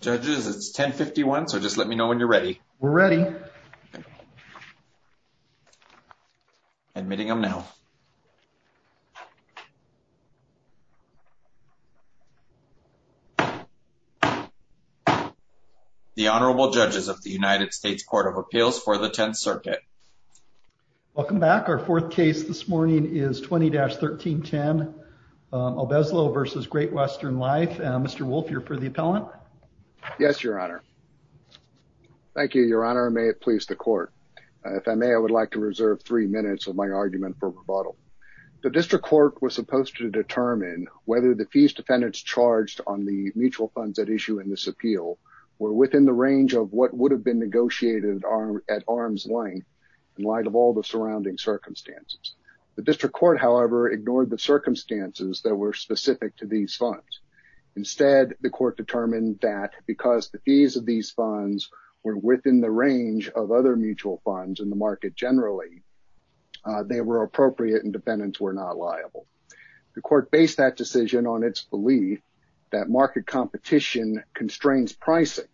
Judges, it's 10-51, so just let me know when you're ready. We're ready. Admitting him now. The Honorable Judges of the United States Court of Appeals for the Tenth Circuit. Welcome back. Our fourth case this morning is 20-1310, Obeslo v. Great-Western Life. Mr. Wolf, you're for the appellant. Yes, Your Honor. Thank you, Your Honor. May it please the Court. If I may, I would like to reserve three minutes of my argument for rebuttal. The district court was supposed to determine whether the fees defendants charged on the mutual funds at issue in this appeal were within the range of what would have been negotiated at arm's length in light of all the surrounding circumstances. The district court, however, ignored the circumstances that were specific to these funds. Instead, the court determined that because the fees of these funds were within the range of other mutual funds in the market generally, they were appropriate and defendants were not liable. The court based that decision on its belief that market competition constrains pricing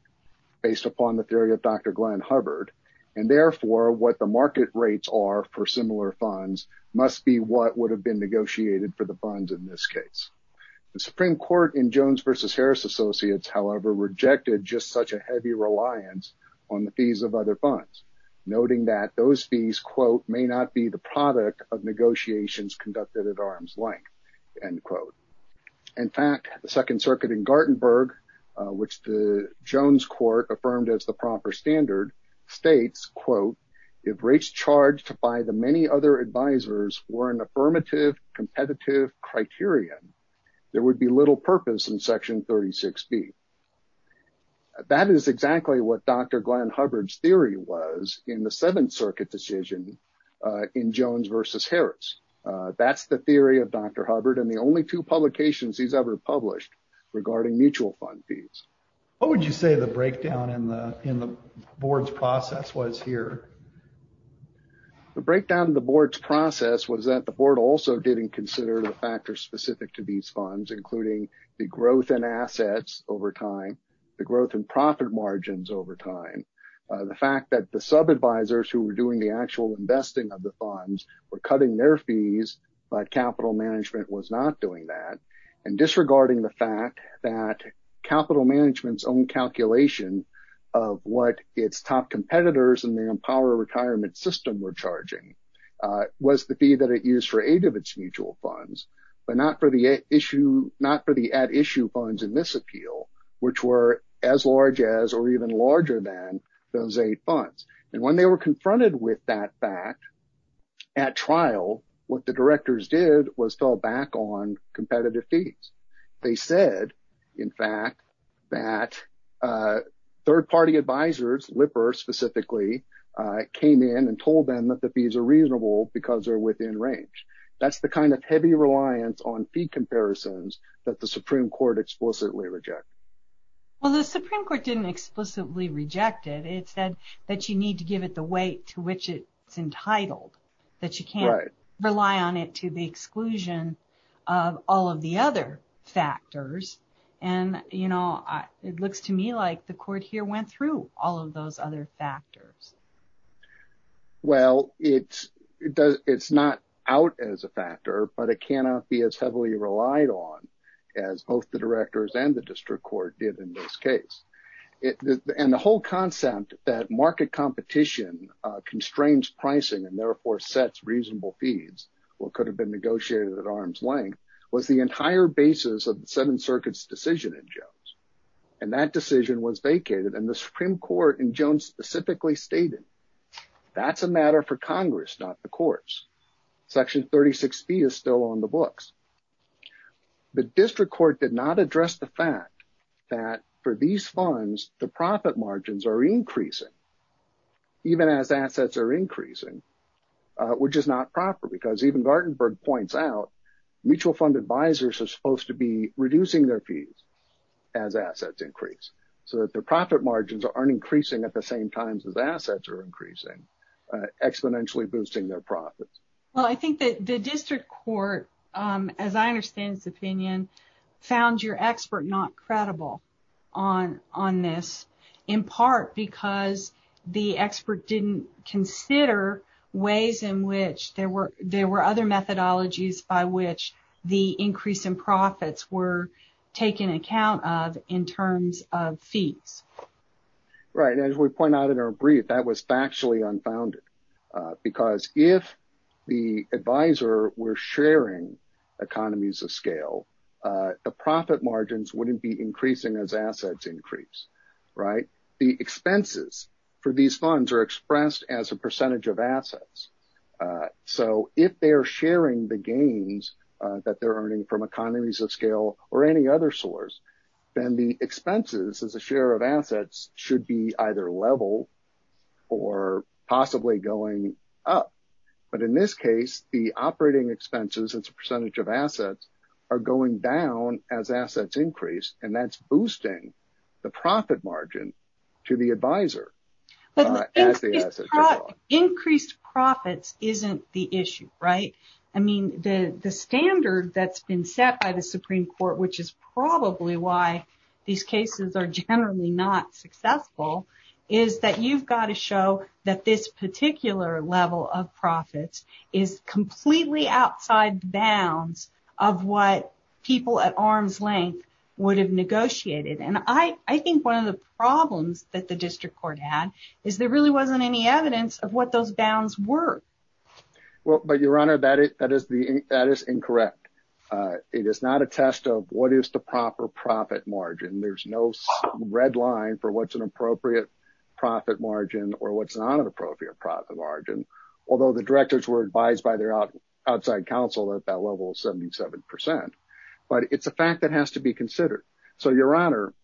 based upon the theory of Dr. Glenn Hubbard, and therefore, what the market rates are for similar funds must be what would have been negotiated for the funds in this case. The Supreme Court in Jones v. Harris Associates, however, rejected just such a heavy reliance on the fees of other funds, noting that those fees, quote, may not be the product of negotiations conducted at arm's length, end quote. In fact, the Second Circuit in Gartenburg, which the Jones court affirmed as the proper standard states, quote, if rates charged by the many other advisors were an affirmative competitive criterion, there would be little purpose in section 36B. That is exactly what Dr. Glenn Hubbard's theory was in the Seventh Circuit decision in Jones v. Harris. That's the theory of Dr. Hubbard and the only two publications he's ever published regarding mutual fund fees. What would you say the breakdown in the board's process was here? The breakdown of the board's process was that the board also didn't consider the factors specific to these funds, including the growth in assets over time, the growth in profit margins over time, the fact that the sub-advisors who were doing the actual investing of the fees, but capital management was not doing that, and disregarding the fact that capital management's own calculation of what its top competitors in the Empower retirement system were charging was the fee that it used for eight of its mutual funds, but not for the at-issue funds in this appeal, which were as large as or even larger than those eight funds. When they were confronted with that fact at trial, what the directors did was fell back on competitive fees. They said, in fact, that third-party advisors, Lipper specifically, came in and told them that the fees are reasonable because they're within range. That's the kind of heavy reliance on fee comparisons that the Supreme Court explicitly rejected. Well, the Supreme Court didn't explicitly reject it. It said that you need to give it the weight to which it's entitled, that you can't rely on it to the exclusion of all of the other factors, and it looks to me like the court here went through all of those other factors. Well, it's not out as a factor, but it cannot be as heavily relied on as both the directors and the district court did in this case. And the whole concept that market competition constrains pricing and therefore sets reasonable fees, what could have been negotiated at arm's length, was the entire basis of the Seventh Circuit's decision in Jones. And that decision was vacated, and the Supreme Court in Jones specifically stated, that's a matter for Congress, not the courts. Section 36B is still on the books. The district court did not address the fact that for these funds, the profit margins are increasing even as assets are increasing, which is not proper because even Gartenberg points out, mutual fund advisors are supposed to be reducing their fees as assets increase, so that the profit margins aren't increasing at the same times as assets are increasing, exponentially boosting their profits. Well, I think that the district court, as I understand his opinion, found your expert not credible on this, in part because the expert didn't consider ways in which there were other methodologies by which the increase in profits were taken account of in terms of fees. Right. And as we point out in our brief, that was factually unfounded, because if the advisor were sharing economies of scale, the profit margins wouldn't be increasing as assets increase, right? The expenses for these funds are expressed as a percentage of assets. So if they're sharing the gains that they're earning from economies of scale or any other source, then the expenses as a share of assets should be either level or possibly going up. But in this case, the operating expenses as a percentage of assets are going down as assets increase, and that's boosting the profit margin to the advisor. Increased profits isn't the issue, right? I mean, the standard that's been set by the Supreme Court, which is probably why these cases are generally not successful, is that you've got to show that this particular level of profits is completely outside bounds of what people at arm's length would have negotiated. And I think one of the problems that the district court had is there really wasn't any evidence of what those bounds were. Well, but Your Honor, that is incorrect. It is not a test of what is the proper profit margin. There's no red line for what's an appropriate profit margin or what's not an appropriate profit margin, although the directors were advised by their outside counsel that that level is 77%. But it's a fact that has to be considered. So Your Honor,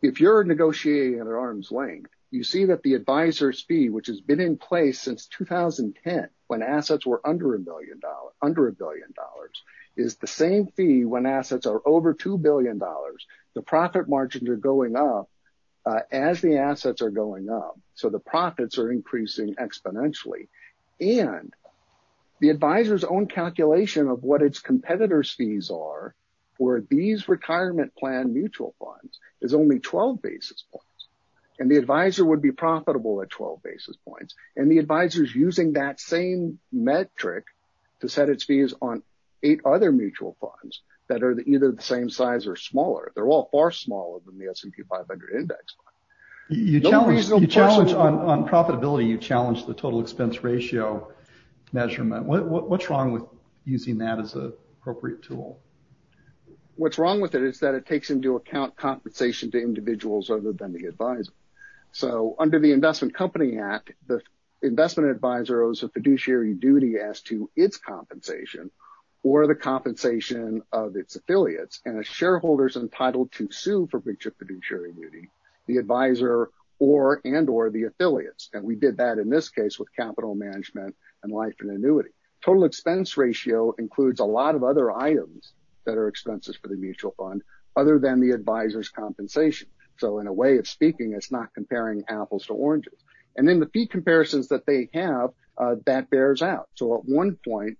if you're negotiating at arm's length, you see that the advisor's fee, which has been in place since 2010 when assets were under a billion dollars, is the same fee when assets are over $2 billion. The profit margins are going up as the assets are going up. So the profits are increasing exponentially. And the advisor's own calculation of what its competitors' fees are for these retirement plan mutual funds is only 12 basis points. And the advisor would be profitable at 12 basis points. And the advisor's using that same metric to set its fees on eight other mutual funds that are either the same size or smaller. They're all far smaller than the S&P 500 index. You challenge on profitability, you challenge the total expense ratio measurement. What's wrong with using that as an appropriate tool? What's wrong with it is that it takes into account compensation to individuals other than the advisor. So under the Investment Company Act, the investment advisor owes a fiduciary duty as to its compensation or the compensation of its affiliates. And a shareholder's entitled to sue for breach of fiduciary duty, the advisor and or the affiliates. And we did that in this case with capital management and life and annuity. Total expense ratio includes a lot of other items that are expenses for the mutual fund other than the advisor's compensation. So in a way of speaking, it's not comparing apples to oranges. And then the fee comparisons that they have, that bears out. So at one point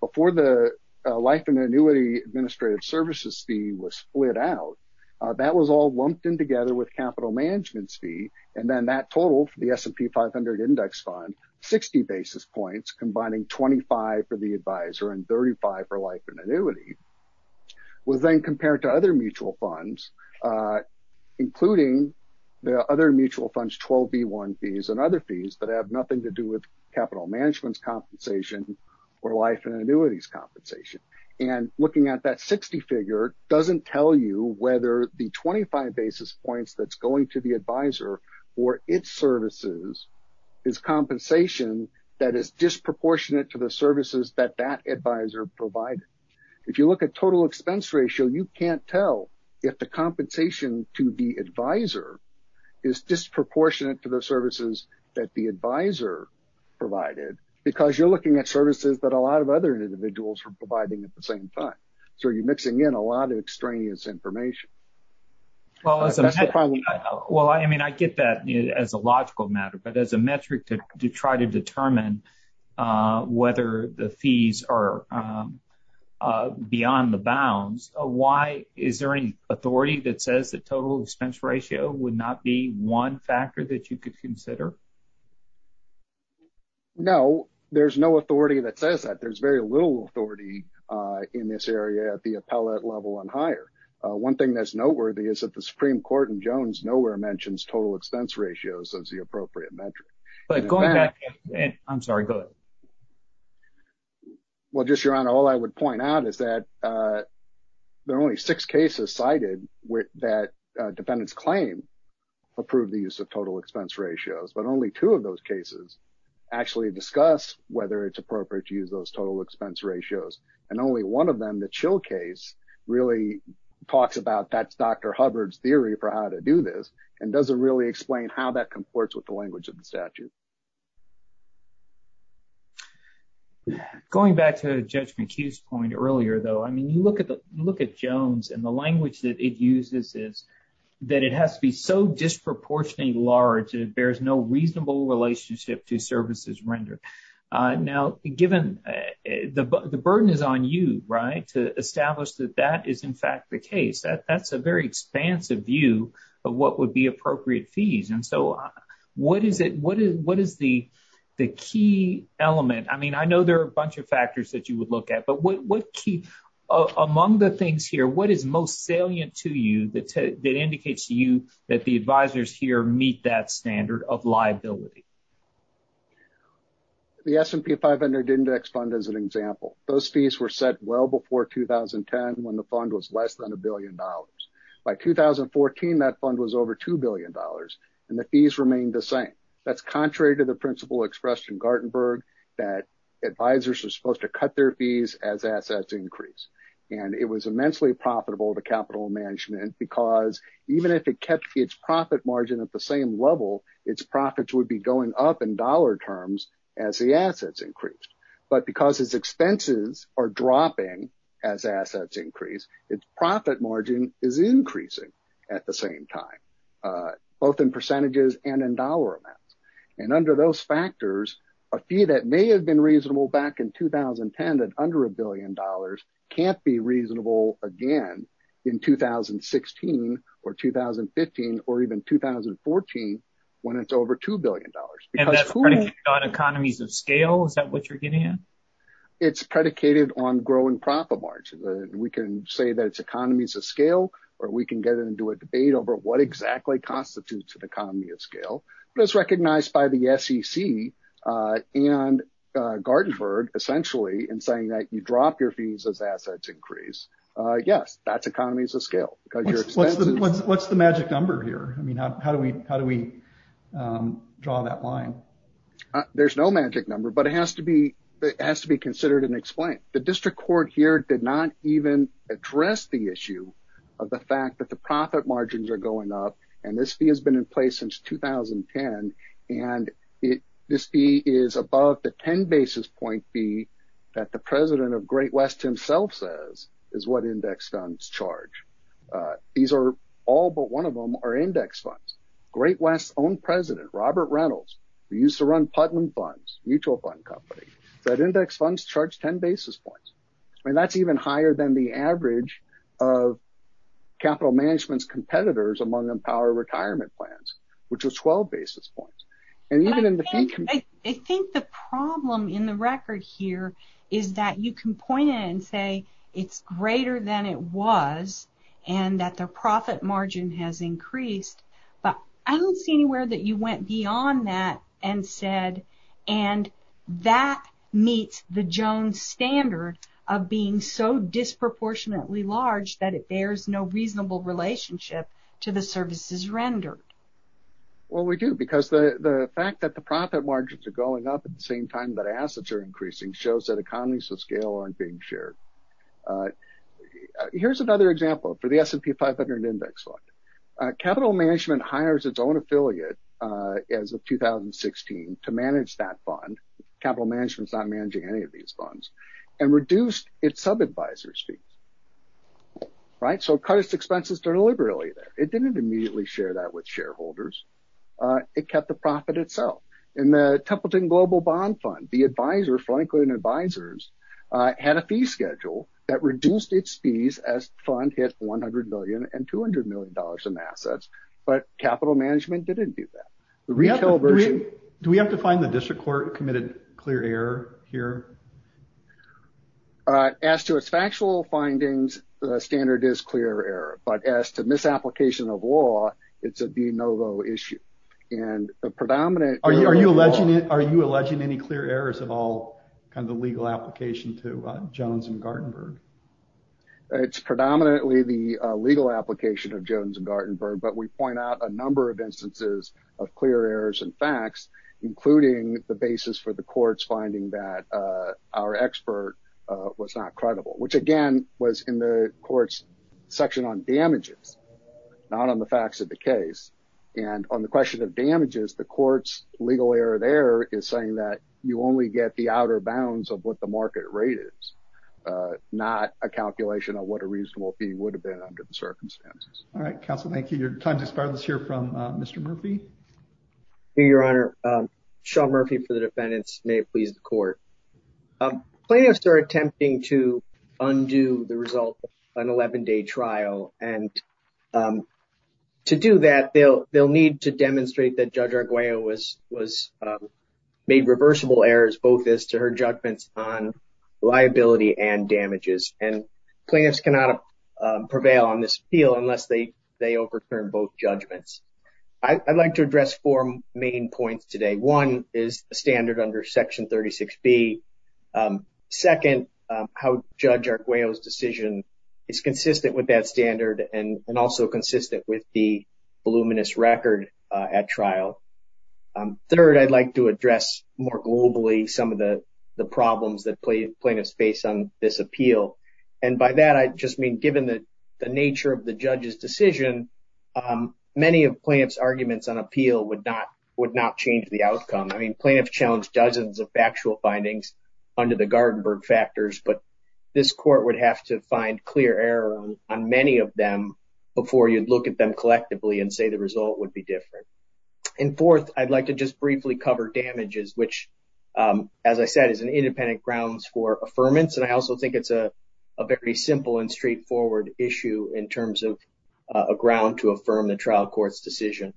before the life and annuity administrative services fee was split out, that was all lumped in together with capital management's fee. And then that total for the S&P 500 index fund, 60 basis points, combining 25 for the including the other mutual funds, 12B1 fees and other fees that have nothing to do with capital management's compensation or life and annuities compensation. And looking at that 60 figure doesn't tell you whether the 25 basis points that's going to the advisor or its services is compensation that is disproportionate to the services that that advisor provided. If you look at total expense ratio, you can't tell if the compensation to the advisor is disproportionate to the services that the advisor provided because you're looking at services that a lot of other individuals are providing at the same time. So you're mixing in a lot of extraneous information. Well, I mean, I get that as a logical matter, but as a metric to try to determine whether the fees are beyond the bounds, why is there any authority that says the total expense ratio would not be one factor that you could consider? No, there's no authority that says that. There's very little authority in this area at the appellate level and higher. One thing that's noteworthy is that the Supreme Court in Jones nowhere mentions total expense ratios as the appropriate metric. But going back, I'm sorry, go ahead. Well, just your honor, all I would point out is that there are only six cases cited that defendants claim approved the use of total expense ratios, but only two of those cases actually discuss whether it's appropriate to use those total expense ratios. And only one of them, the chill case, really talks about that's Dr. Hubbard's theory for how to do this and doesn't really explain how that comports with the language of the statute. Going back to Judge McHugh's point earlier, though, I mean, you look at Jones and the language that it uses is that it has to be so disproportionately large that it bears no reasonable relationship to services rendered. Now, given the burden is on you to establish that that is, in fact, the case, that's a very expansive view of what would be appropriate fees. And so what is it what is what is the the key element? I mean, I know there are a bunch of factors that you would look at, but what key among the things here, what is most salient to you that that indicates to you that the advisors here meet that standard of liability? The S&P 500 index fund, as an example, those fees were set well before 2010 when the fund was less than a billion dollars. By 2014, that fund was over two billion dollars and the fees remained the same. That's contrary to the principle expressed in Gartenberg that advisors are supposed to cut their fees as assets increase. And it was immensely profitable to capital management because even if it kept its profit margin at the same level, its profits would be going up in dollar terms as the assets increased. But because its expenses are dropping as assets increase, its profit margin is increasing at the same time, both in percentages and in dollar amounts. And under those factors, a fee that may have been reasonable back in 2010 at under a billion dollars can't be reasonable again in 2016 or 2015 or even 2014 when it's over two billion dollars. That's predicated on economies of scale. Is that what you're getting at? It's predicated on growing profit margin. We can say that it's economies of scale or we can get into a debate over what exactly constitutes an economy of scale. But it's recognized by the SEC and Gartenberg essentially in saying that you drop your fees as assets increase. Yes, that's economies of scale. What's the magic number here? How do we draw that line? There's no magic number, but it has to be considered and explained. The district court here did not even address the issue of the fact that the profit margins are going up. And this fee has been in place since 2010. And this fee is above the 10 basis point fee that the president of Great West himself says is what index funds charge. These are all but one of them are index funds. Great West's own president, Robert Reynolds, who used to run Putnam Funds, a mutual fund company, said index funds charge 10 basis points. I mean, that's even higher than the average of capital management's competitors among Empower Retirement Plans, which was 12 basis points. And even in the fee- I think the problem in the record here is that you can point it and say it's greater than it was and that the profit margin has increased. But I don't see anywhere that you went beyond that and said, and that meets the Jones standard of being so disproportionately large that it bears no reasonable relationship to the services rendered. Well, we do, because the fact that the profit margins are going up at the same time that assets are increasing shows that economies of scale aren't being shared. Here's another example for the S&P 500 index fund. Capital management hires its own affiliate as of 2016 to manage that fund. Capital management's not managing any of these funds, and reduced its sub-advisor's fees. Right? So it cut its expenses deliberately there. It didn't immediately share that with shareholders. It kept the profit itself. In the Templeton Global Bond Fund, the advisor, Franklin Advisors, had a fee schedule that reduced its fees as the fund hit $100 million and $200 million in assets. But capital management didn't do that. Do we have to find the district court committed clear error here? As to its factual findings, the standard is clear error. But as to misapplication of law, it's a de novo issue. Are you alleging any clear errors of all the legal application to Jones and Gartenberg? It's predominantly the legal application of Jones and Gartenberg. But we point out a number of instances of clear errors and facts, including the basis for the court's finding that our expert was not credible. Which, again, was in the court's section on damages, not on the facts of the case. And on the question of damages, the court's legal error there is saying that you only get the outer bounds of what the market rate is, not a calculation of what a reasonable fee would have been under the circumstances. All right, counsel. Thank you. Your time has expired. Let's hear from Mr. Murphy. Your Honor, Sean Murphy for the defendants. May it please the court. Plaintiffs are attempting to undo the result of an 11-day trial. And to do that, they'll need to demonstrate that Judge Arguello was made reversible errors to her judgments on liability and damages. And plaintiffs cannot prevail on this appeal unless they overturn both judgments. I'd like to address four main points today. One is the standard under Section 36B. Second, how Judge Arguello's decision is consistent with that standard and also consistent with the voluminous record at trial. Third, I'd like to address more globally some of the problems that plaintiffs face on this appeal. And by that, I just mean given the nature of the judge's decision, many of plaintiff's arguments on appeal would not change the outcome. I mean, plaintiffs challenged dozens of factual findings under the Gartenberg factors. But this court would have to find clear error on many of them before you'd look at them collectively and say the result would be different. And fourth, I'd like to just briefly cover damages, which, as I said, is an independent grounds for affirmance. And I also think it's a very simple and straightforward issue in terms of a ground to affirm the trial court's decision.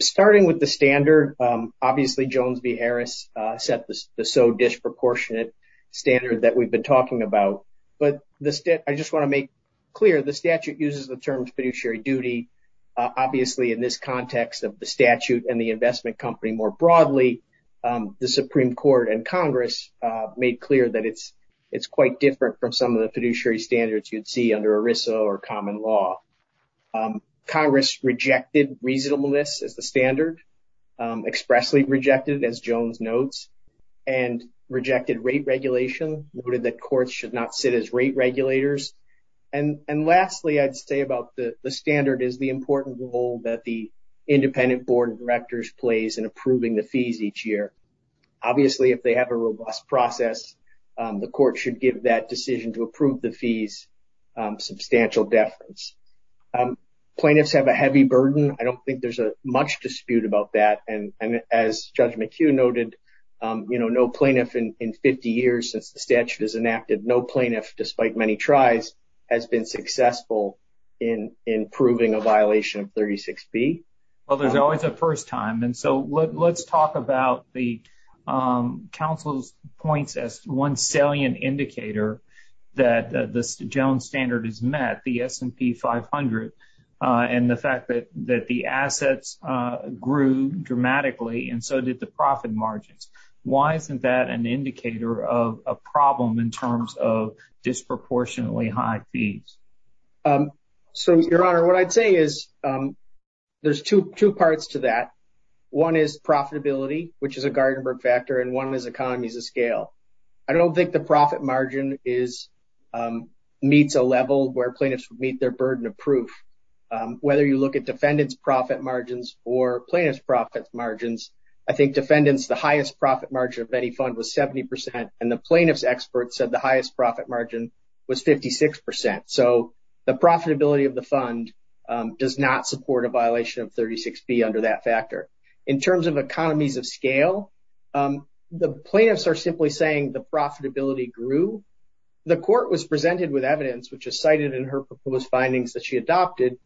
Starting with the standard, obviously, Jones v. Harris set the so disproportionate standard that we've been talking about. But I just want to make clear the statute uses the term fiduciary duty. Obviously, in this context of the statute and the investment company more broadly, the Supreme Court and Congress made clear that it's quite different from some of the fiduciary standards you'd see under ERISA or common law. Congress rejected reasonableness as the standard, expressly rejected, as Jones notes, and rejected rate regulation, noted that courts should not sit as rate regulators. And lastly, I'd say about the standard is the important role that the independent board of directors plays in approving the fees each year. Obviously, if they have a robust process, the court should give that decision to approve the fees substantial deference. Plaintiffs have a heavy burden. I don't think there's much dispute about that. And as Judge McHugh noted, no plaintiff in 50 years since the statute is enacted, no has been successful in proving a violation of 36B. Well, there's always a first time. And so let's talk about the counsel's points as one salient indicator that the Jones standard is met, the S&P 500, and the fact that the assets grew dramatically, and so did the profit margins. Why isn't that an indicator of a problem in terms of disproportionately high fees? So, Your Honor, what I'd say is there's two parts to that. One is profitability, which is a Gartenberg factor, and one is economies of scale. I don't think the profit margin is, meets a level where plaintiffs would meet their burden of proof. Whether you look at defendant's profit margins or plaintiff's profit margins, I think defendants, the highest profit margin of any fund was 70%, and the plaintiff's experts said the highest profit margin was 56%. So the profitability of the fund does not support a violation of 36B under that factor. In terms of economies of scale, the plaintiffs are simply saying the profitability grew. The court was presented with evidence, which is cited in her proposed findings that she including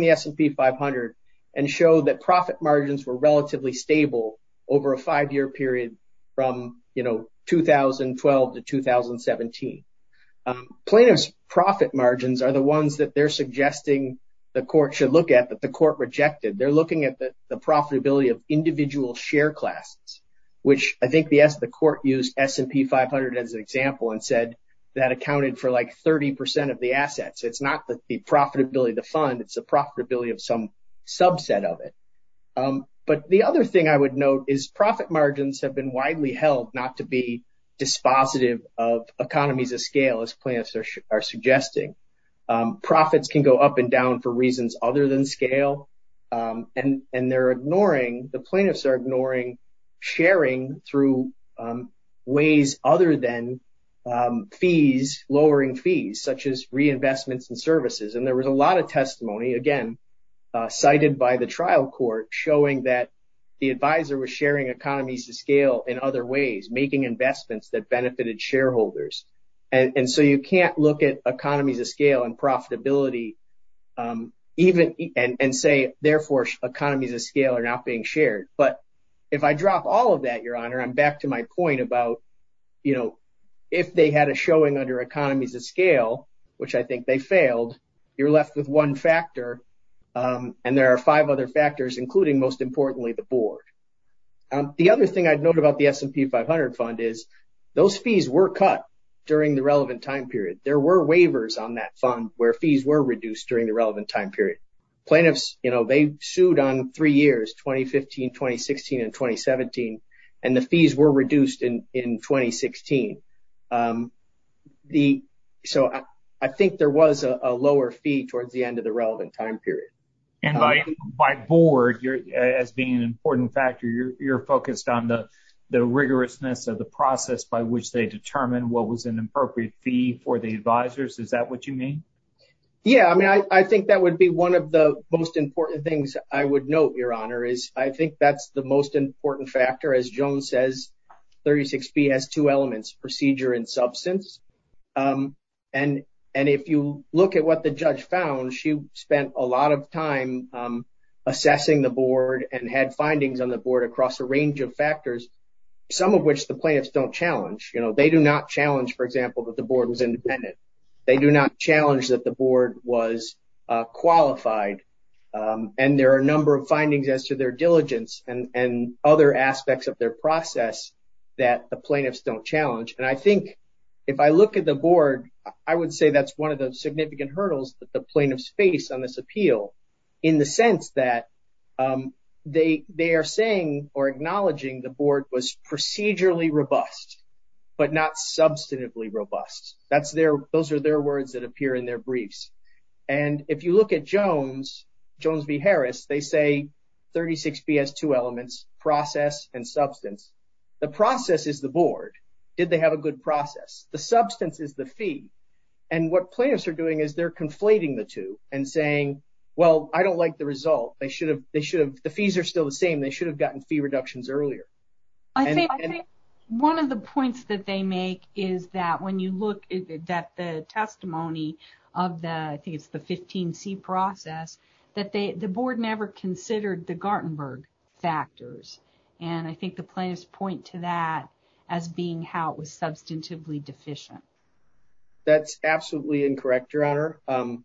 the S&P 500, and showed that profit margins were relatively stable over a five-year period from, you know, 2012 to 2017. Plaintiff's profit margins are the ones that they're suggesting the court should look at that the court rejected. They're looking at the profitability of individual share classes, which I think the court used S&P 500 as an example and said that accounted for like 30% of the assets. It's not the profitability of the fund, it's the profitability of some subset of it. But the other thing I would note is profit margins have been widely held not to be dispositive of economies of scale, as plaintiffs are suggesting. Profits can go up and down for reasons other than scale, and they're ignoring, the plaintiffs fees, lowering fees, such as reinvestments and services. And there was a lot of testimony, again, cited by the trial court, showing that the advisor was sharing economies of scale in other ways, making investments that benefited shareholders. And so you can't look at economies of scale and profitability, even and say, therefore, economies of scale are not being shared. But if I drop all of that, your honor, I'm back to my point about, you know, if they had a showing under economies of scale, which I think they failed, you're left with one factor. And there are five other factors, including most importantly, the board. The other thing I'd note about the S&P 500 fund is those fees were cut during the relevant time period. There were waivers on that fund where fees were reduced during the relevant time period. Plaintiffs, you know, they sued on three years, 2015, 2016 and 2017, and the fees were reduced in 2016. So I think there was a lower fee towards the end of the relevant time period. And by board, as being an important factor, you're focused on the rigorousness of the process by which they determine what was an appropriate fee for the advisors. Is that what you mean? Yeah, I mean, I think that would be one of the most important things I would note, your honor, is I think that's the most important factor. As Joan says, 36B has two elements, procedure and substance. And if you look at what the judge found, she spent a lot of time assessing the board and had findings on the board across a range of factors, some of which the plaintiffs don't challenge. You know, they do not challenge, for example, that the board was independent. They do not challenge that the board was qualified. And there are a number of findings as to their diligence and other aspects of their process that the plaintiffs don't challenge. And I think if I look at the board, I would say that's one of the significant hurdles that the plaintiffs face on this appeal in the sense that they are saying or acknowledging the board was procedurally robust, but not substantively robust. Those are their words that appear in their briefs. And if you look at Jones v. Harris, they say 36B has two elements, process and substance. The process is the board. Did they have a good process? The substance is the fee. And what plaintiffs are doing is they're conflating the two and saying, well, I don't like the result. The fees are still the same. They should have gotten fee reductions earlier. I think one of the points that they make is that when you look at the testimony of the, I think it's the 15C process, that the board never considered the Gartenberg factors. And I think the plaintiffs point to that as being how it was substantively deficient. That's absolutely incorrect, Your Honor.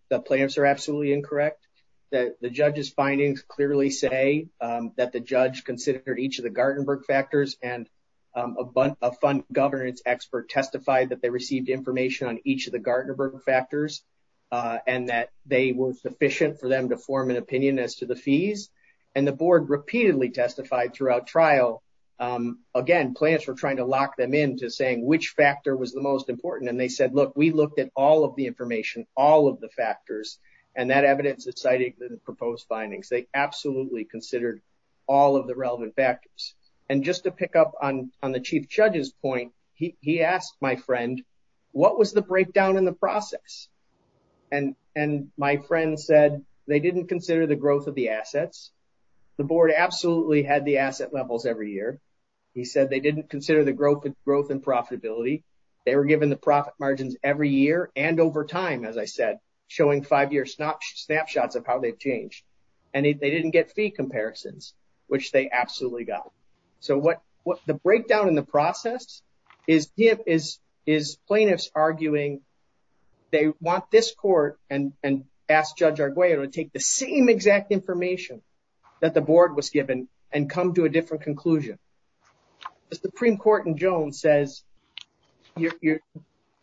The plaintiffs are absolutely incorrect. The judge's findings clearly say that the judge considered each of the Gartenberg factors and a fund governance expert testified that they received information on each of the Gartenberg factors and that they were sufficient for them to form an opinion as to the fees. And the board repeatedly testified throughout trial. Again, plaintiffs were trying to lock them into saying which factor was the most important. And they said, look, we looked at all of the information, all of the factors. And that evidence is cited in the proposed findings. They absolutely considered all of the relevant factors. And just to pick up on the chief judge's point, he asked my friend, what was the breakdown in the process? And my friend said, they didn't consider the growth of the assets. The board absolutely had the asset levels every year. He said they didn't consider the growth and profitability. They were given the profit margins every year and over time, as I said, showing five-year snapshots of how they've changed. And they didn't get fee comparisons, which they absolutely got. So the breakdown in the process is plaintiffs arguing they want this court and ask Judge Arguello to take the same exact information that the board was given and come to a different conclusion. The Supreme Court in Jones says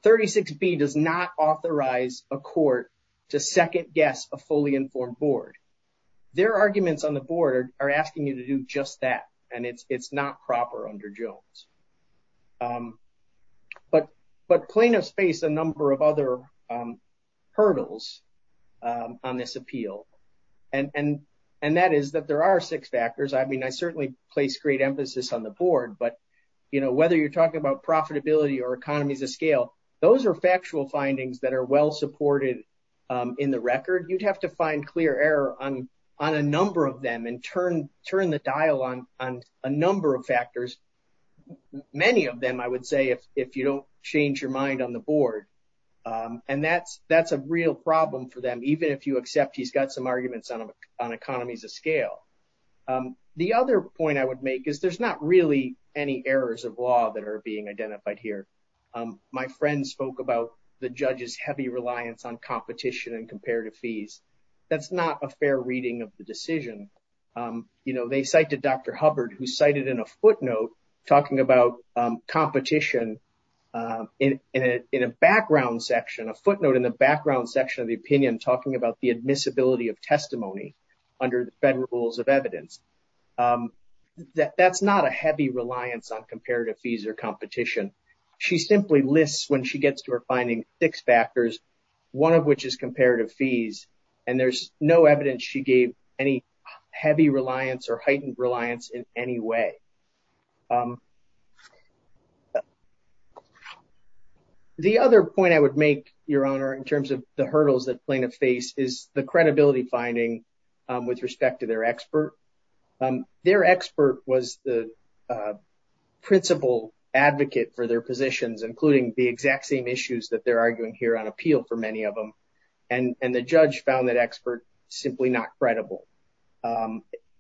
36B does not authorize a court to second guess a fully informed board. Their arguments on the board are asking you to do just that. And it's not proper under Jones. But plaintiffs face a number of other hurdles on this appeal. And that is that there are six factors. I certainly place great emphasis on the board, but whether you're talking about profitability or economies of scale, those are factual findings that are well-supported in the record. You'd have to find clear error on a number of them and turn the dial on a number of factors, many of them, I would say, if you don't change your mind on the board. And that's a real problem for them, even if you accept he's got some arguments on economies of scale. The other point I would make is there's not really any errors of law that are being identified here. My friend spoke about the judge's heavy reliance on competition and comparative fees. That's not a fair reading of the decision. They cited Dr. Hubbard, who cited in a footnote talking about competition in a background section, a footnote in the background section of the opinion talking about the admissibility of testimony under the Federal Rules of Evidence. That's not a heavy reliance on comparative fees or competition. She simply lists when she gets to her finding six factors, one of which is comparative fees, and there's no evidence she gave any heavy reliance or heightened reliance in any way. The other point I would make, Your Honor, in terms of the hurdles that plaintiffs face is the credibility finding with respect to their expert. Their expert was the principal advocate for their positions, including the exact same issues that they're arguing here on appeal for many of them, and the judge found that expert simply not credible.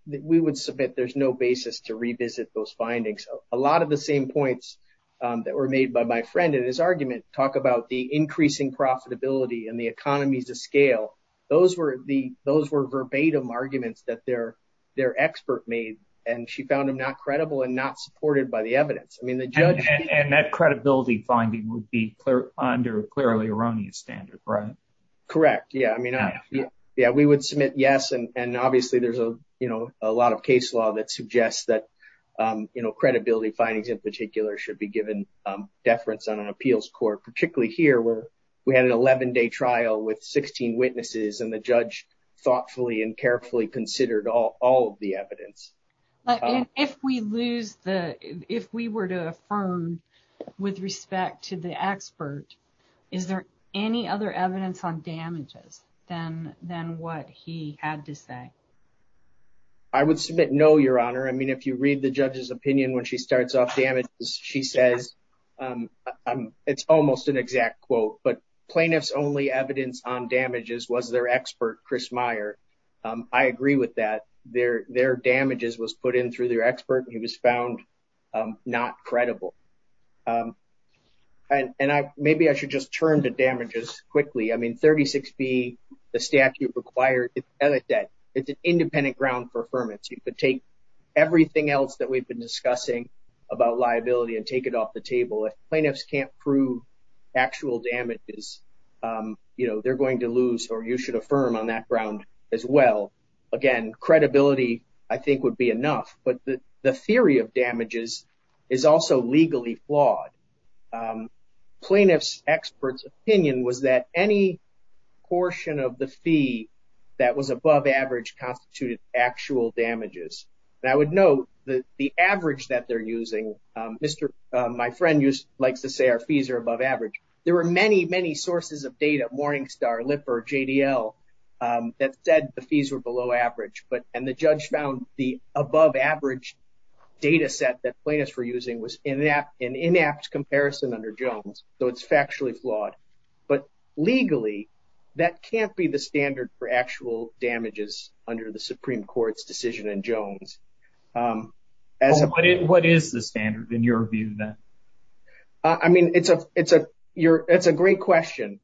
We would submit there's no basis to revisit those findings. A lot of the same points that were made by my friend in his argument talk about the increasing profitability and the economies of scale. Those were verbatim arguments that their expert made, and she found them not credible and not supported by the evidence. I mean, the judge... And that credibility finding would be under clearly erroneous standard, right? Correct. Yeah, I mean, yeah, we would submit yes, and obviously, there's a lot of case law that suggests that credibility findings in particular should be given deference on an appeals court, particularly here where we had an 11-day trial with 16 witnesses, and the judge thoughtfully and carefully considered all of the evidence. If we were to affirm with respect to the expert, is there any other evidence on damages than what he had to say? I would submit no, Your Honor. I mean, if you read the judge's opinion when she starts off damages, she says, and it's almost an exact quote, but plaintiff's only evidence on damages was their expert, Chris Meyer. I agree with that. Their damages was put in through their expert, and he was found not credible. And maybe I should just turn to damages quickly. I mean, 36B, the statute required, it's an independent ground for affirmance. You could take everything else that we've been discussing about liability and take it off the table. If plaintiffs can't prove actual damages, they're going to lose, or you should affirm on that ground as well. Again, credibility, I think, would be enough. But the theory of damages is also legally flawed. Plaintiff's expert's opinion was that any portion of the fee that was above average constituted actual damages. And I would note that the average that they're using, my friend likes to say our fees are above average. There were many, many sources of data, Morningstar, Lipper, JDL, that said the fees were below average, and the judge found the above average data set that plaintiffs were using was an inapt comparison under Jones. So it's factually flawed. But legally, that can't be the standard for actual damages under the Supreme Court's decision in Jones. What is the standard, in your view, then? I mean, it's a great question.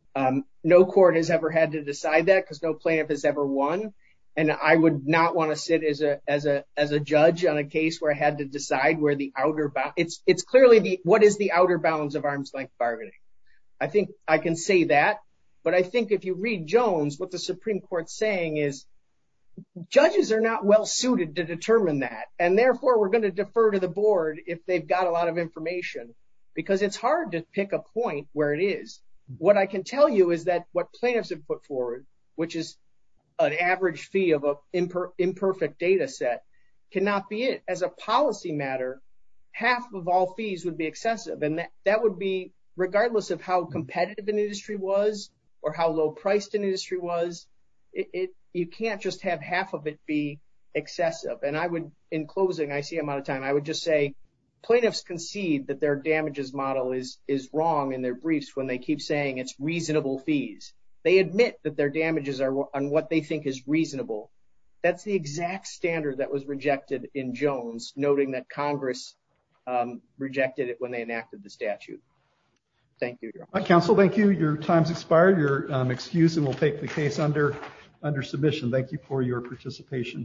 No court has ever had to decide that because no plaintiff has ever won. And I would not want to sit as a judge on a case where I had to decide where the outer bound—it's clearly, what is the outer bounds of arms-length bargaining? I think I can say that. But I think if you read Jones, what the Supreme Court's saying is judges are not well-suited to determine that. And therefore, we're going to defer to the board if they've got a lot of information, because it's hard to pick a point where it is. What I can tell you is that what plaintiffs have put forward, which is an average fee of an imperfect data set, cannot be it. As a policy matter, half of all fees would be excessive. That would be—regardless of how competitive an industry was or how low-priced an industry was, you can't just have half of it be excessive. And I would, in closing—I see I'm out of time—I would just say plaintiffs concede that their damages model is wrong in their briefs when they keep saying it's reasonable fees. They admit that their damages are on what they think is reasonable. That's the exact standard that was rejected in Jones, noting that Congress rejected it when they enacted the statute. Thank you, Your Honor. Counsel, thank you. Your time's expired. You're excused and will take the case under submission. Thank you for your participation today.